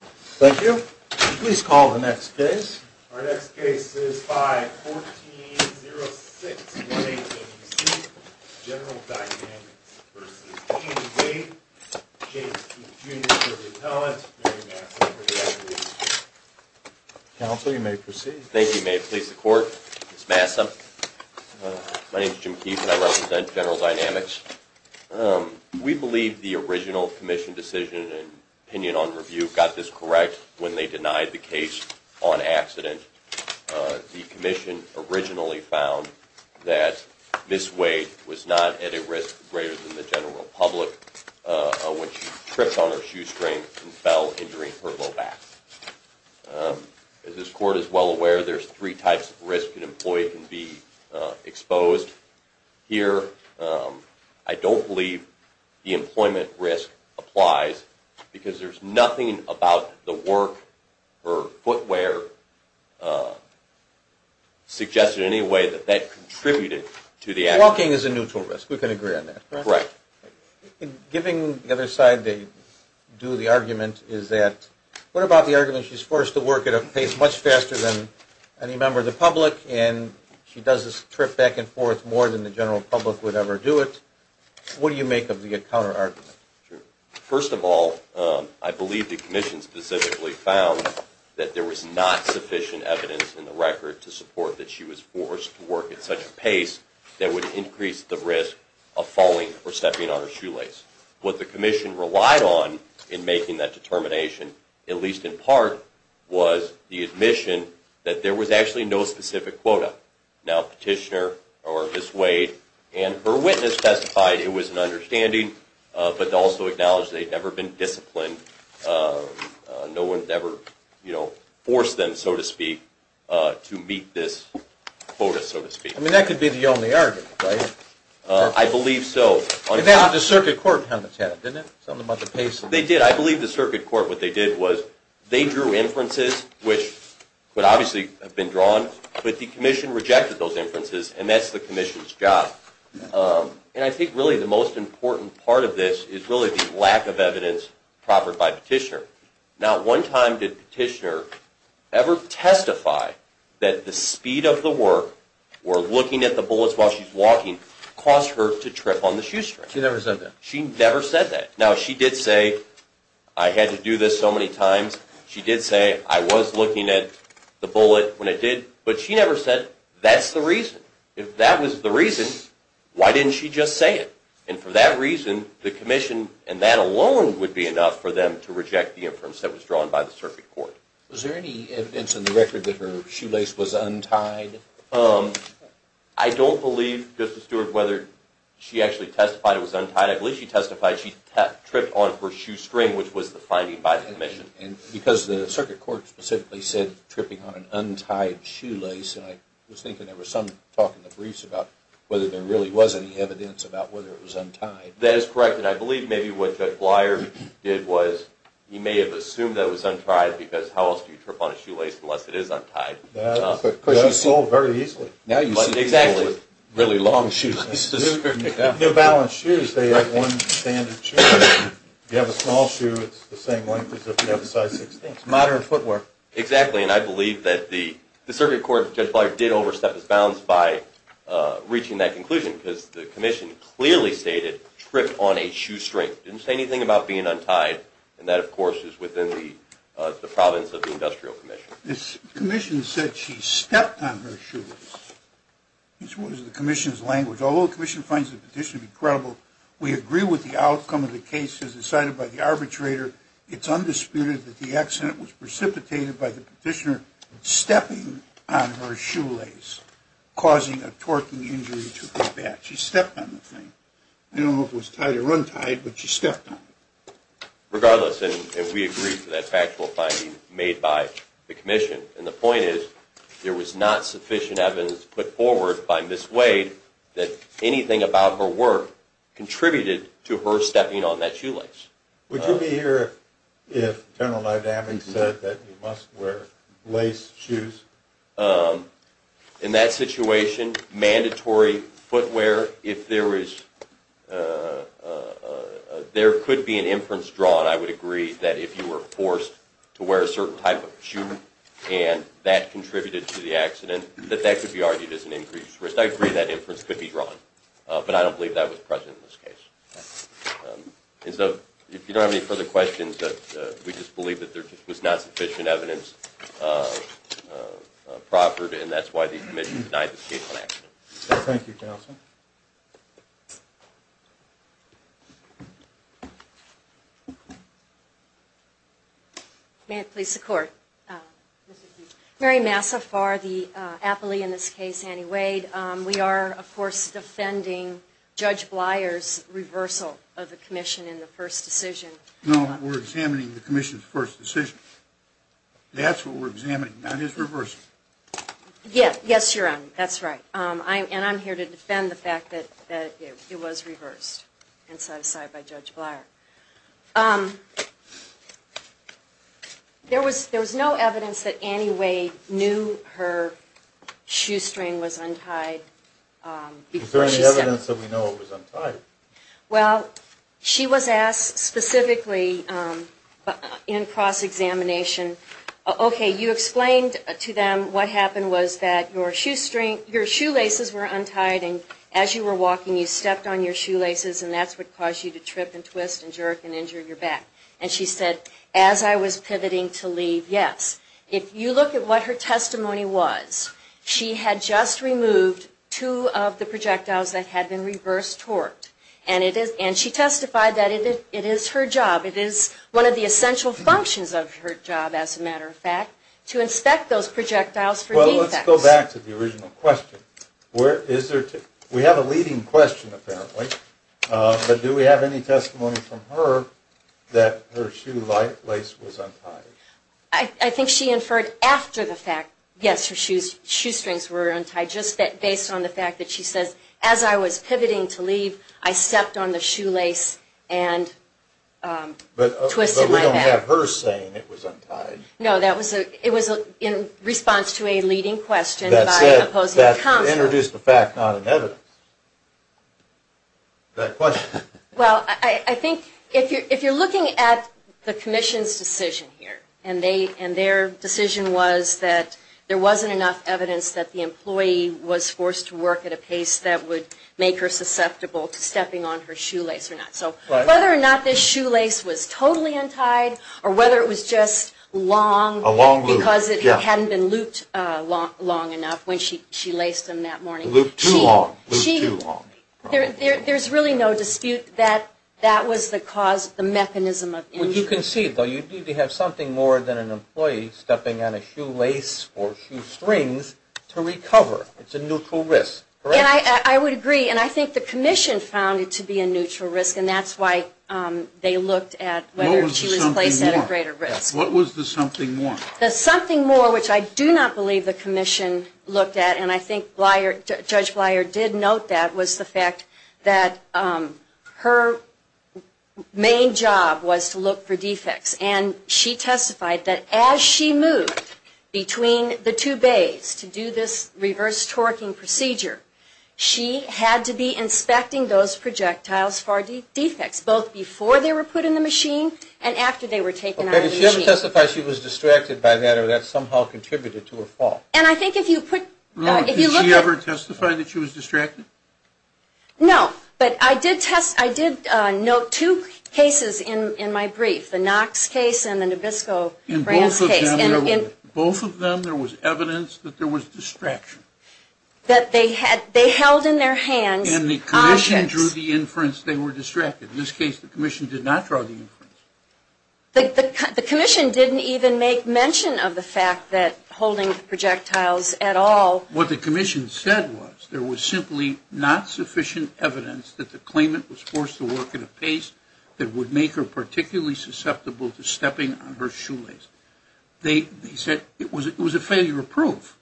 Thank you. Please call the next case. Our next case is 5-1406-1886, General Dynamics v. E&V, James Keith Jr. for Retail and Mary Massam for the Acquisition. Counsel, you may proceed. Thank you. May it please the Court? Ms. Massam, my name is Jim Keith and I represent General Dynamics. We believe the original Commission decision and opinion on review got this correct when they denied the case on accident. The Commission originally found that Ms. Wade was not at a risk greater than the general public when she tripped on her shoestring and fell injuring her low back. As this Court is well aware, there's three types of risk an employee can be exposed here. I don't believe the employment risk applies because there's nothing about the work or footwear suggested in any way that that contributed to the accident. Walking is a neutral risk. We can agree on that, correct? Correct. Giving the other side to do the argument is that what about the argument she's forced to work at a pace much faster than any member of the public and she does this trip back and forth more than the general public would ever do it. What do you make of the counterargument? First of all, I believe the Commission specifically found that there was not sufficient evidence in the record to support that she was forced to work at such a pace that would increase the risk of falling or stepping on her shoelace. What the Commission relied on in making that determination, at least in part, was the admission that there was actually no specific quota. Now Petitioner or Ms. Wade and her witness testified it was an understanding but also acknowledged they'd never been disciplined. No one ever forced them, so to speak, to meet this quota, so to speak. I mean, that could be the only argument, right? I believe so. They had the Circuit Court on the tab, didn't they? Something about the pace. They did. I believe the Circuit Court, what they did was they drew inferences, which would obviously have been drawn, but the Commission rejected those inferences and that's the Commission's job. And I think really the most important part of this is really the lack of evidence proffered by Petitioner. Not one time did Petitioner ever testify that the speed of the work, or looking at the bullets while she's walking, caused her to trip on the shoestring. She never said that. She never said that. Now she did say, I had to do this so many times, she did say I was looking at the bullet when I did, but she never said that's the reason. If that was the reason, why didn't she just say it? And for that reason, the Commission and that alone would be enough for them to reject the inference that was drawn by the Circuit Court. Was there any evidence in the record that her shoelace was untied? I don't believe, Justice Stewart, whether she actually testified it was untied. I believe she testified she tripped on her shoestring, which was the finding by the Commission. Because the Circuit Court specifically said tripping on an untied shoelace, and I was thinking there was some talk in the briefs about whether there really was any evidence about whether it was untied. That is correct, and I believe maybe what Judge Blyer did was he may have assumed that it was untied, because how else do you trip on a shoelace unless it is untied? Because she sold very easily. Now you see people with really long shoelaces. New Balance shoes, they have one standard shoe. If you have a small shoe, it's the same length as if you have a size 16. It's modern footwear. Exactly, and I believe that the Circuit Court, Judge Blyer, did overstep its bounds by reaching that conclusion, because the Commission clearly stated trip on a shoestring. It didn't say anything about being untied, and that, of course, is within the province of the Industrial Commission. The Commission said she stepped on her shoelace, which was the Commission's language. Although the Commission finds the petition to be credible, we agree with the outcome of the case as decided by the arbitrator. It's undisputed that the accident was precipitated by the petitioner stepping on her shoelace, causing a torquing injury to her back. She stepped on the thing. I don't know if it was tied or untied, but she stepped on it. Regardless, and we agree with that factual finding made by the Commission, and the point is there was not sufficient evidence put forward by Ms. Wade that anything about her work contributed to her stepping on that shoelace. Would you be here if General Leibovitz said that you must wear lace shoes? In that situation, mandatory footwear, if there is – there could be an inference drawn, I would agree, that if you were forced to wear a certain type of shoe and that contributed to the accident, that that could be argued as an increased risk. I agree that inference could be drawn, but I don't believe that was present in this case. And so, if you don't have any further questions, we just believe that there was not sufficient evidence proffered, and that's why the Commission denied this case on accident. Thank you, Counsel. May it please the Court. Mary Massafar, the appellee in this case, Annie Wade. We are, of course, defending Judge Bleier's reversal of the Commission in the first decision. No, we're examining the Commission's first decision. That's what we're examining, not his reversal. Yes, you're right. That's right. And I'm here to defend the fact that it was reversed and set aside by Judge Bleier. There was no evidence that Annie Wade knew her shoestring was untied. Is there any evidence that we know it was untied? Well, she was asked specifically in cross-examination, okay, you explained to them what happened was that your shoelaces were untied, and as you were walking, you stepped on your shoelaces, and that's what caused you to trip and twist. You tripped and jerked and injured your back. And she said, as I was pivoting to leave, yes. If you look at what her testimony was, she had just removed two of the projectiles that had been reverse torqued. And she testified that it is her job, it is one of the essential functions of her job, as a matter of fact, to inspect those projectiles for defects. Well, let's go back to the original question. We have a leading question, apparently. But do we have any testimony from her that her shoelace was untied? I think she inferred after the fact, yes, her shoestrings were untied, just based on the fact that she says, as I was pivoting to leave, I stepped on the shoelace and twisted my back. But we don't have her saying it was untied. No, it was in response to a leading question by an opposing counsel. That introduced the fact, not an evidence. Well, I think if you're looking at the Commission's decision here, and their decision was that there wasn't enough evidence that the employee was forced to work at a pace that would make her susceptible to stepping on her shoelace or not. So whether or not this shoelace was totally untied, or whether it was just long, because it hadn't been looped long enough when she laced them that morning. Looped too long. There's really no dispute that that was the cause, the mechanism of injury. You can see, though, you do have something more than an employee stepping on a shoelace or shoestrings to recover. It's a neutral risk, correct? I would agree, and I think the Commission found it to be a neutral risk, and that's why they looked at whether she was placed at a greater risk. What was the something more? The something more, which I do not believe the Commission looked at, and I think Judge Bleier did note that, was the fact that her main job was to look for defects. And she testified that as she moved between the two bays to do this reverse torquing procedure, she had to be inspecting those projectiles for defects, both before they were put in the machine and after they were taken out of the machine. Did she ever testify she was distracted by that, or that somehow contributed to her fall? And I think if you put, if you look at... Did she ever testify that she was distracted? No, but I did test, I did note two cases in my brief, the Knox case and the Nabisco-Browns case. In both of them, there was evidence that there was distraction. That they had, they held in their hands objects. And the Commission drew the inference they were distracted. In this case, the Commission did not draw the inference. The Commission didn't even make mention of the fact that holding the projectiles at all. What the Commission said was there was simply not sufficient evidence that the claimant was forced to work at a pace that would make her particularly susceptible to stepping on her shoelace. They said it was a failure of proof.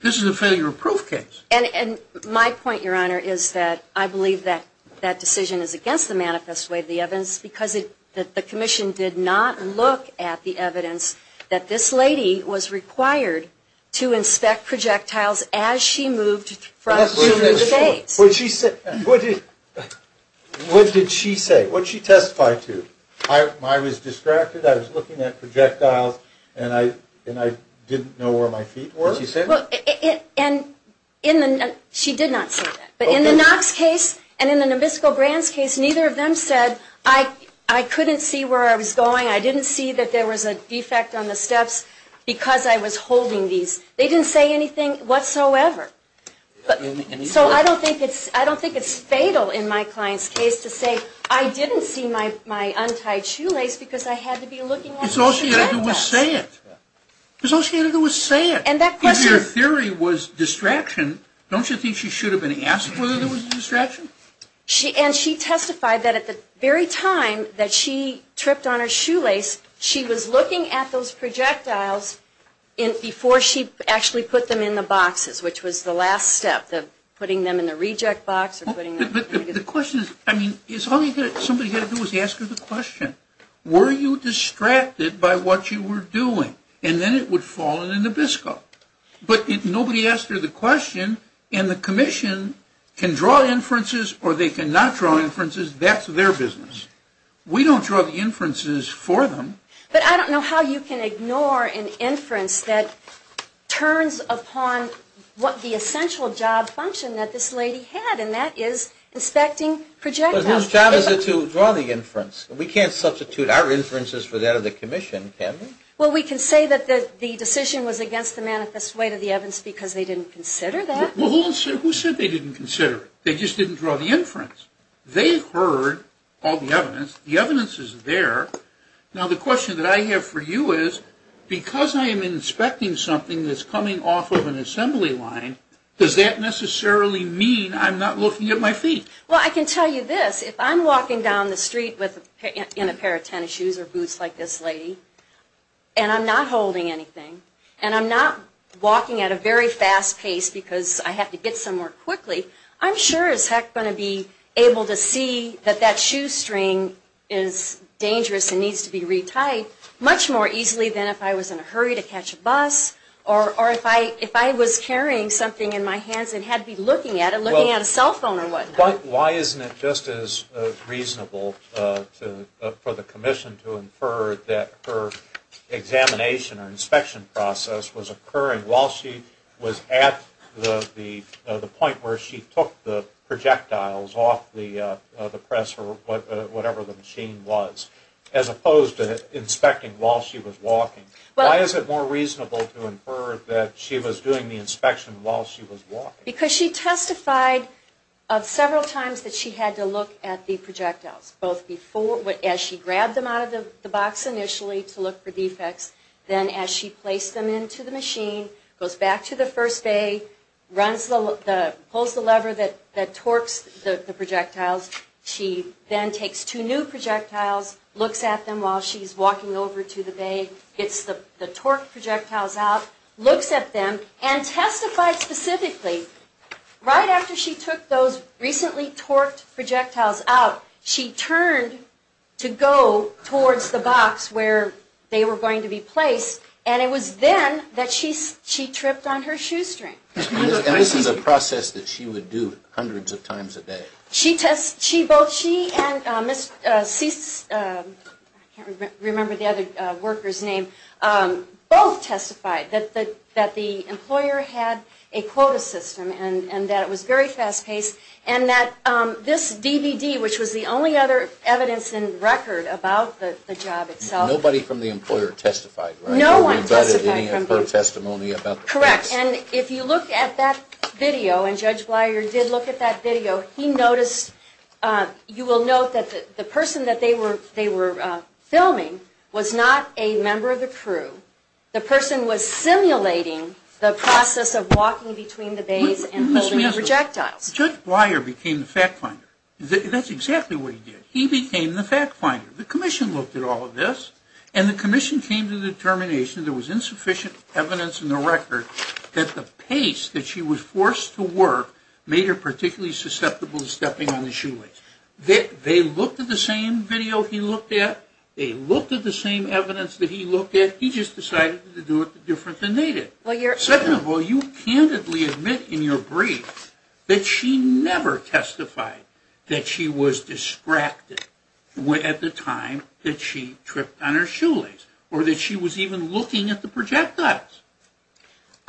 This is a failure of proof case. And my point, Your Honor, is that I believe that that decision is against the manifest way of the evidence because the Commission did not look at the evidence that this lady was required to inspect projectiles as she moved from shoe to face. What did she say? What did she testify to? I was distracted, I was looking at projectiles, and I didn't know where my feet were. Did she say that? She did not say that. But in the Knox case and in the Nabisco-Brands case, neither of them said, I couldn't see where I was going, I didn't see that there was a defect on the steps because I was holding these. They didn't say anything whatsoever. So I don't think it's fatal in my client's case to say, I didn't see my untied shoelace because I had to be looking at the canvas. That's all she had to do was say it. That's all she had to do was say it. If your theory was distraction, don't you think she should have been asked whether there was a distraction? And she testified that at the very time that she tripped on her shoelace, she was looking at those projectiles before she actually put them in the boxes, which was the last step, putting them in the reject box. The question is, all you have to do is ask her the question, were you distracted by what you were doing? And then it would fall in the Nabisco. But nobody asked her the question, and the commission can draw inferences or they cannot draw inferences, that's their business. We don't draw the inferences for them. But I don't know how you can ignore an inference that turns upon what the essential job function that this lady had, and that is inspecting projectiles. But whose job is it to draw the inference? We can't substitute our inferences for that of the commission, can we? Well, we can say that the decision was against the manifest weight of the evidence because they didn't consider that. Well, who said they didn't consider it? They just didn't draw the inference. They heard all the evidence. The evidence is there. Now, the question that I have for you is, because I am inspecting something that's coming off of an assembly line, does that necessarily mean I'm not looking at my feet? Well, I can tell you this. If I'm walking down the street in a pair of tennis shoes or boots like this lady, and I'm not holding anything, and I'm not walking at a very fast pace because I have to get somewhere quickly, I'm sure as heck going to be able to see that that shoe string is dangerous and needs to be re-tied much more easily than if I was in a hurry to catch a bus or if I was carrying something in my hands and had to be looking at it, looking at a cell phone or whatnot. Why isn't it just as reasonable for the commission to infer that her examination or inspection process was occurring while she was at the point where she took the projectiles off the press or whatever the machine was, as opposed to inspecting while she was walking? Why is it more reasonable to infer that she was doing the inspection while she was walking? Because she testified several times that she had to look at the projectiles, both as she grabbed them out of the box initially to look for defects, then as she placed them into the machine, goes back to the first bay, pulls the lever that torques the projectiles. She then takes two new projectiles, looks at them while she's walking over to the bay, gets the torqued projectiles out, looks at them, and testified specifically. Right after she took those recently torqued projectiles out, she turned to go towards the box where they were going to be placed, and it was then that she tripped on her shoestring. And this is a process that she would do hundreds of times a day. Both she and Ms. Cease, I can't remember the other worker's name, both testified that the employer had a quota system and that it was very fast-paced, and that this DVD, which was the only other evidence in record about the job itself. Nobody from the employer testified, right? No one testified. Nobody provided any of her testimony about the process. Correct, and if you look at that video, and Judge Blier did look at that video, he noticed, you will note that the person that they were filming was not a member of the crew. The person was simulating the process of walking between the bays and holding the projectiles. Judge Blier became the fact finder. That's exactly what he did. He became the fact finder. The commission looked at all of this, and the commission came to the determination that there was insufficient evidence in the record that the pace that she was forced to work made her particularly susceptible to stepping on the shoelace. They looked at the same video he looked at. They looked at the same evidence that he looked at. He just decided to do it different than they did. Second of all, you candidly admit in your brief that she never testified that she was distracted at the time that she tripped on her shoelace, or that she was even looking at the projectiles.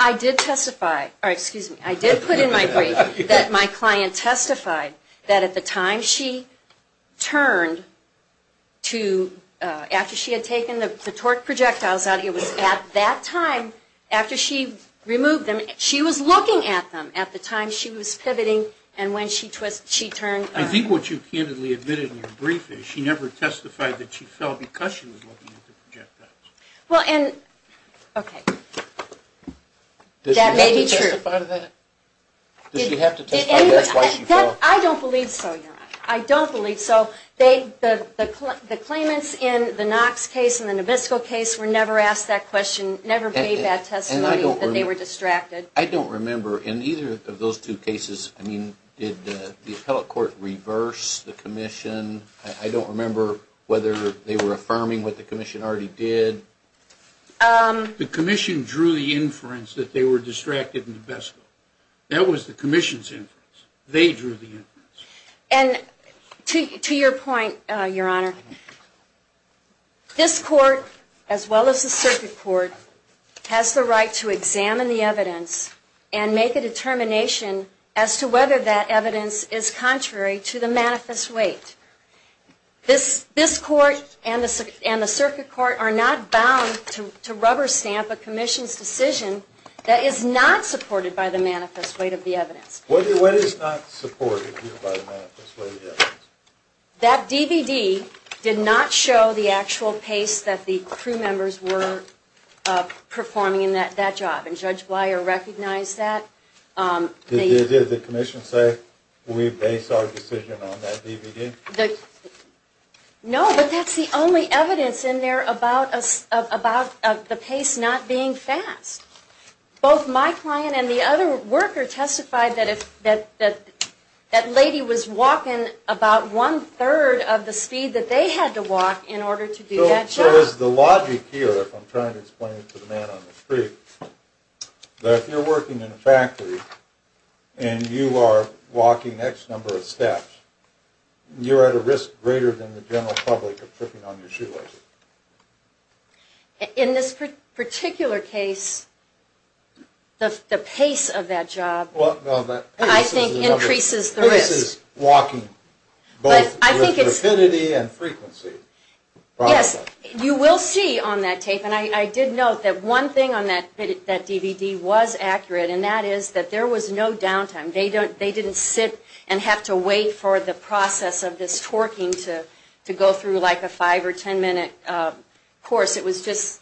I did testify. Excuse me. I did put in my brief that my client testified that at the time she turned to, after she had taken the torqued projectiles out, it was at that time, after she removed them, she was looking at them at the time she was pivoting, and when she turned. I think what you candidly admitted in your brief is she never testified that she fell because she was looking at the projectiles. Well, and, okay, that may be true. Did she have to testify to that? Did she have to testify that she fell? I don't believe so, Your Honor. I don't believe so. The claimants in the Knox case and the Nabisco case were never asked that question, never made that testimony that they were distracted. I don't remember in either of those two cases, I mean, did the appellate court reverse the commission? I don't remember whether they were affirming what the commission already did. The commission drew the inference that they were distracted in the Nabisco. That was the commission's inference. They drew the inference. And to your point, Your Honor, this court, as well as the circuit court, has the right to examine the evidence and make a determination as to whether that evidence is contrary to the manifest weight. This court and the circuit court are not bound to rubber stamp a commission's decision that is not supported by the manifest weight of the evidence. What is not supported here by the manifest weight of the evidence? That DVD did not show the actual pace that the crew members were performing in that job. And Judge Blier recognized that. Did the commission say we base our decision on that DVD? No, but that's the only evidence in there about the pace not being fast. Both my client and the other worker testified that that lady was walking about one-third of the speed that they had to walk in order to do that job. So is the logic here, if I'm trying to explain it to the man on the street, that if you're working in a factory and you are walking X number of steps, you're at a risk greater than the general public of tripping on your shoelaces? In this particular case, the pace of that job, I think, increases the risk. The pace is walking both with rapidity and frequency. Yes, you will see on that tape, and I did note that one thing on that DVD was accurate, and that is that there was no downtime. They didn't sit and have to wait for the process of this torquing to go through like a five- or ten-minute course. It was just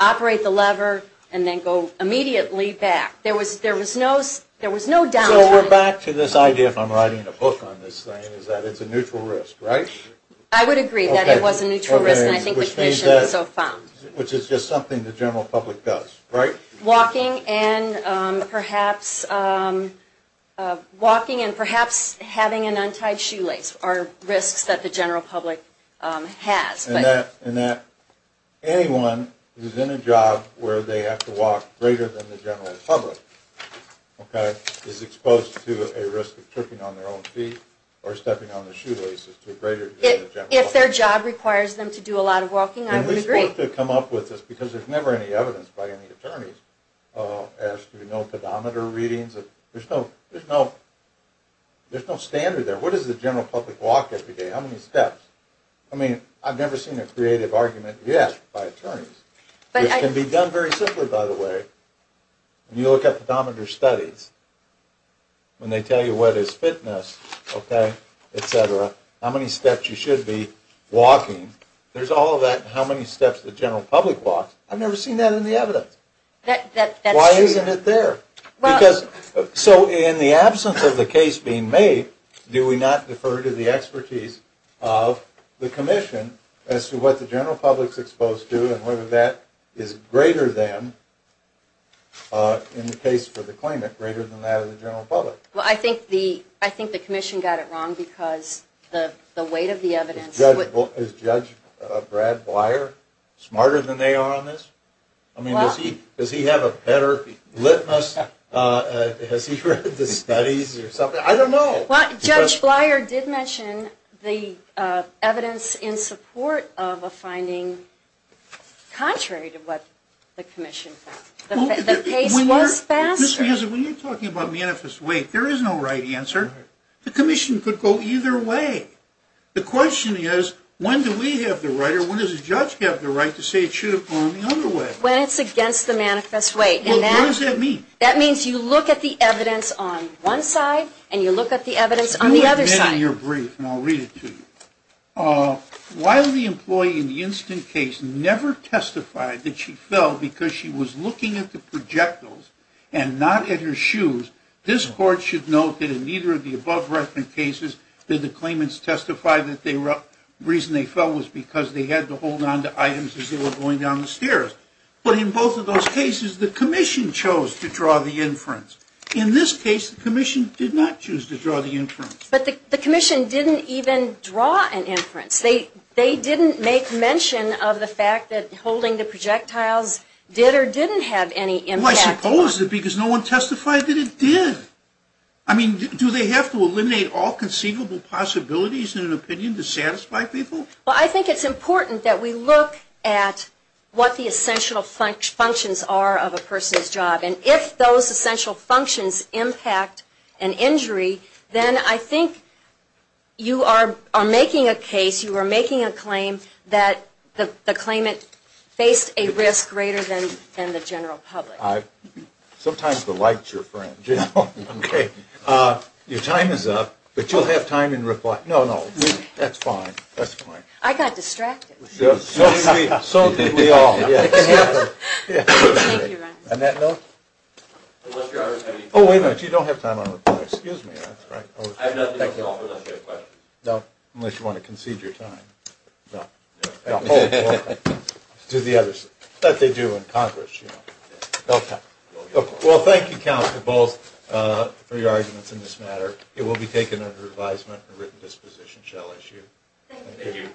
operate the lever and then go immediately back. There was no downtime. So we're back to this idea, if I'm writing a book on this thing, is that it's a neutral risk, right? I would agree that it was a neutral risk, and I think the commission has so found. Which is just something the general public does, right? Walking and perhaps having an untied shoelace are risks that the general public has. And that anyone who's in a job where they have to walk greater than the general public is exposed to a risk of tripping on their own feet or stepping on their shoelaces to a greater degree than the general public. If their job requires them to do a lot of walking, I would agree. And we're supposed to come up with this because there's never any evidence by any attorneys as to pedometer readings. There's no standard there. What is the general public walk every day? How many steps? I mean, I've never seen a creative argument yet by attorneys. Which can be done very simply, by the way. When you look at pedometer studies, when they tell you what is fitness, okay, et cetera, how many steps you should be walking, there's all of that in how many steps the general public walks. I've never seen that in the evidence. Why isn't it there? Because so in the absence of the case being made, do we not defer to the expertise of the commission as to what the general public's exposed to and whether that is greater than, in the case for the claimant, greater than that of the general public? Well, I think the commission got it wrong because the weight of the evidence. Is Judge Brad Blier smarter than they are on this? I mean, does he have a better litmus? Has he read the studies or something? I don't know. Well, Judge Blier did mention the evidence in support of a finding contrary to what the commission thought. The case was faster. When you're talking about manifest weight, there is no right answer. The commission could go either way. The question is, when do we have the right or when does the judge have the right to say it should have gone the other way? When it's against the manifest weight. What does that mean? That means you look at the evidence on one side and you look at the evidence on the other side. Do what you did in your brief and I'll read it to you. While the employee in the instant case never testified that she fell because she was looking at the projectiles and not at her shoes, this court should note that in neither of the above-referenced cases did the claimants testify that the reason they fell was because they had to hold onto items as they were going down the stairs. But in both of those cases, the commission chose to draw the inference. In this case, the commission did not choose to draw the inference. But the commission didn't even draw an inference. They didn't make mention of the fact that holding the projectiles did or didn't have any impact. Well, I suppose that because no one testified that it did. I mean, do they have to eliminate all conceivable possibilities in an opinion to satisfy people? Well, I think it's important that we look at what the essential functions are of a person's job. And if those essential functions impact an injury, then I think you are making a case, you are making a claim that the claimant faced a risk greater than the general public. Sometimes the light's your friend. Your time is up, but you'll have time in reply. No, no. That's fine. That's fine. I got distracted. So did we. So did we all. On that note. Oh, wait a minute. You don't have time. Excuse me. That's right. I have nothing to offer unless you have questions. No. Unless you want to concede your time. No. No. Hold. Hold. To the others. But they do in Congress, you know. Okay. Well, thank you, counsel, both for your arguments in this matter. It will be taken under advisement and written disposition shall issue.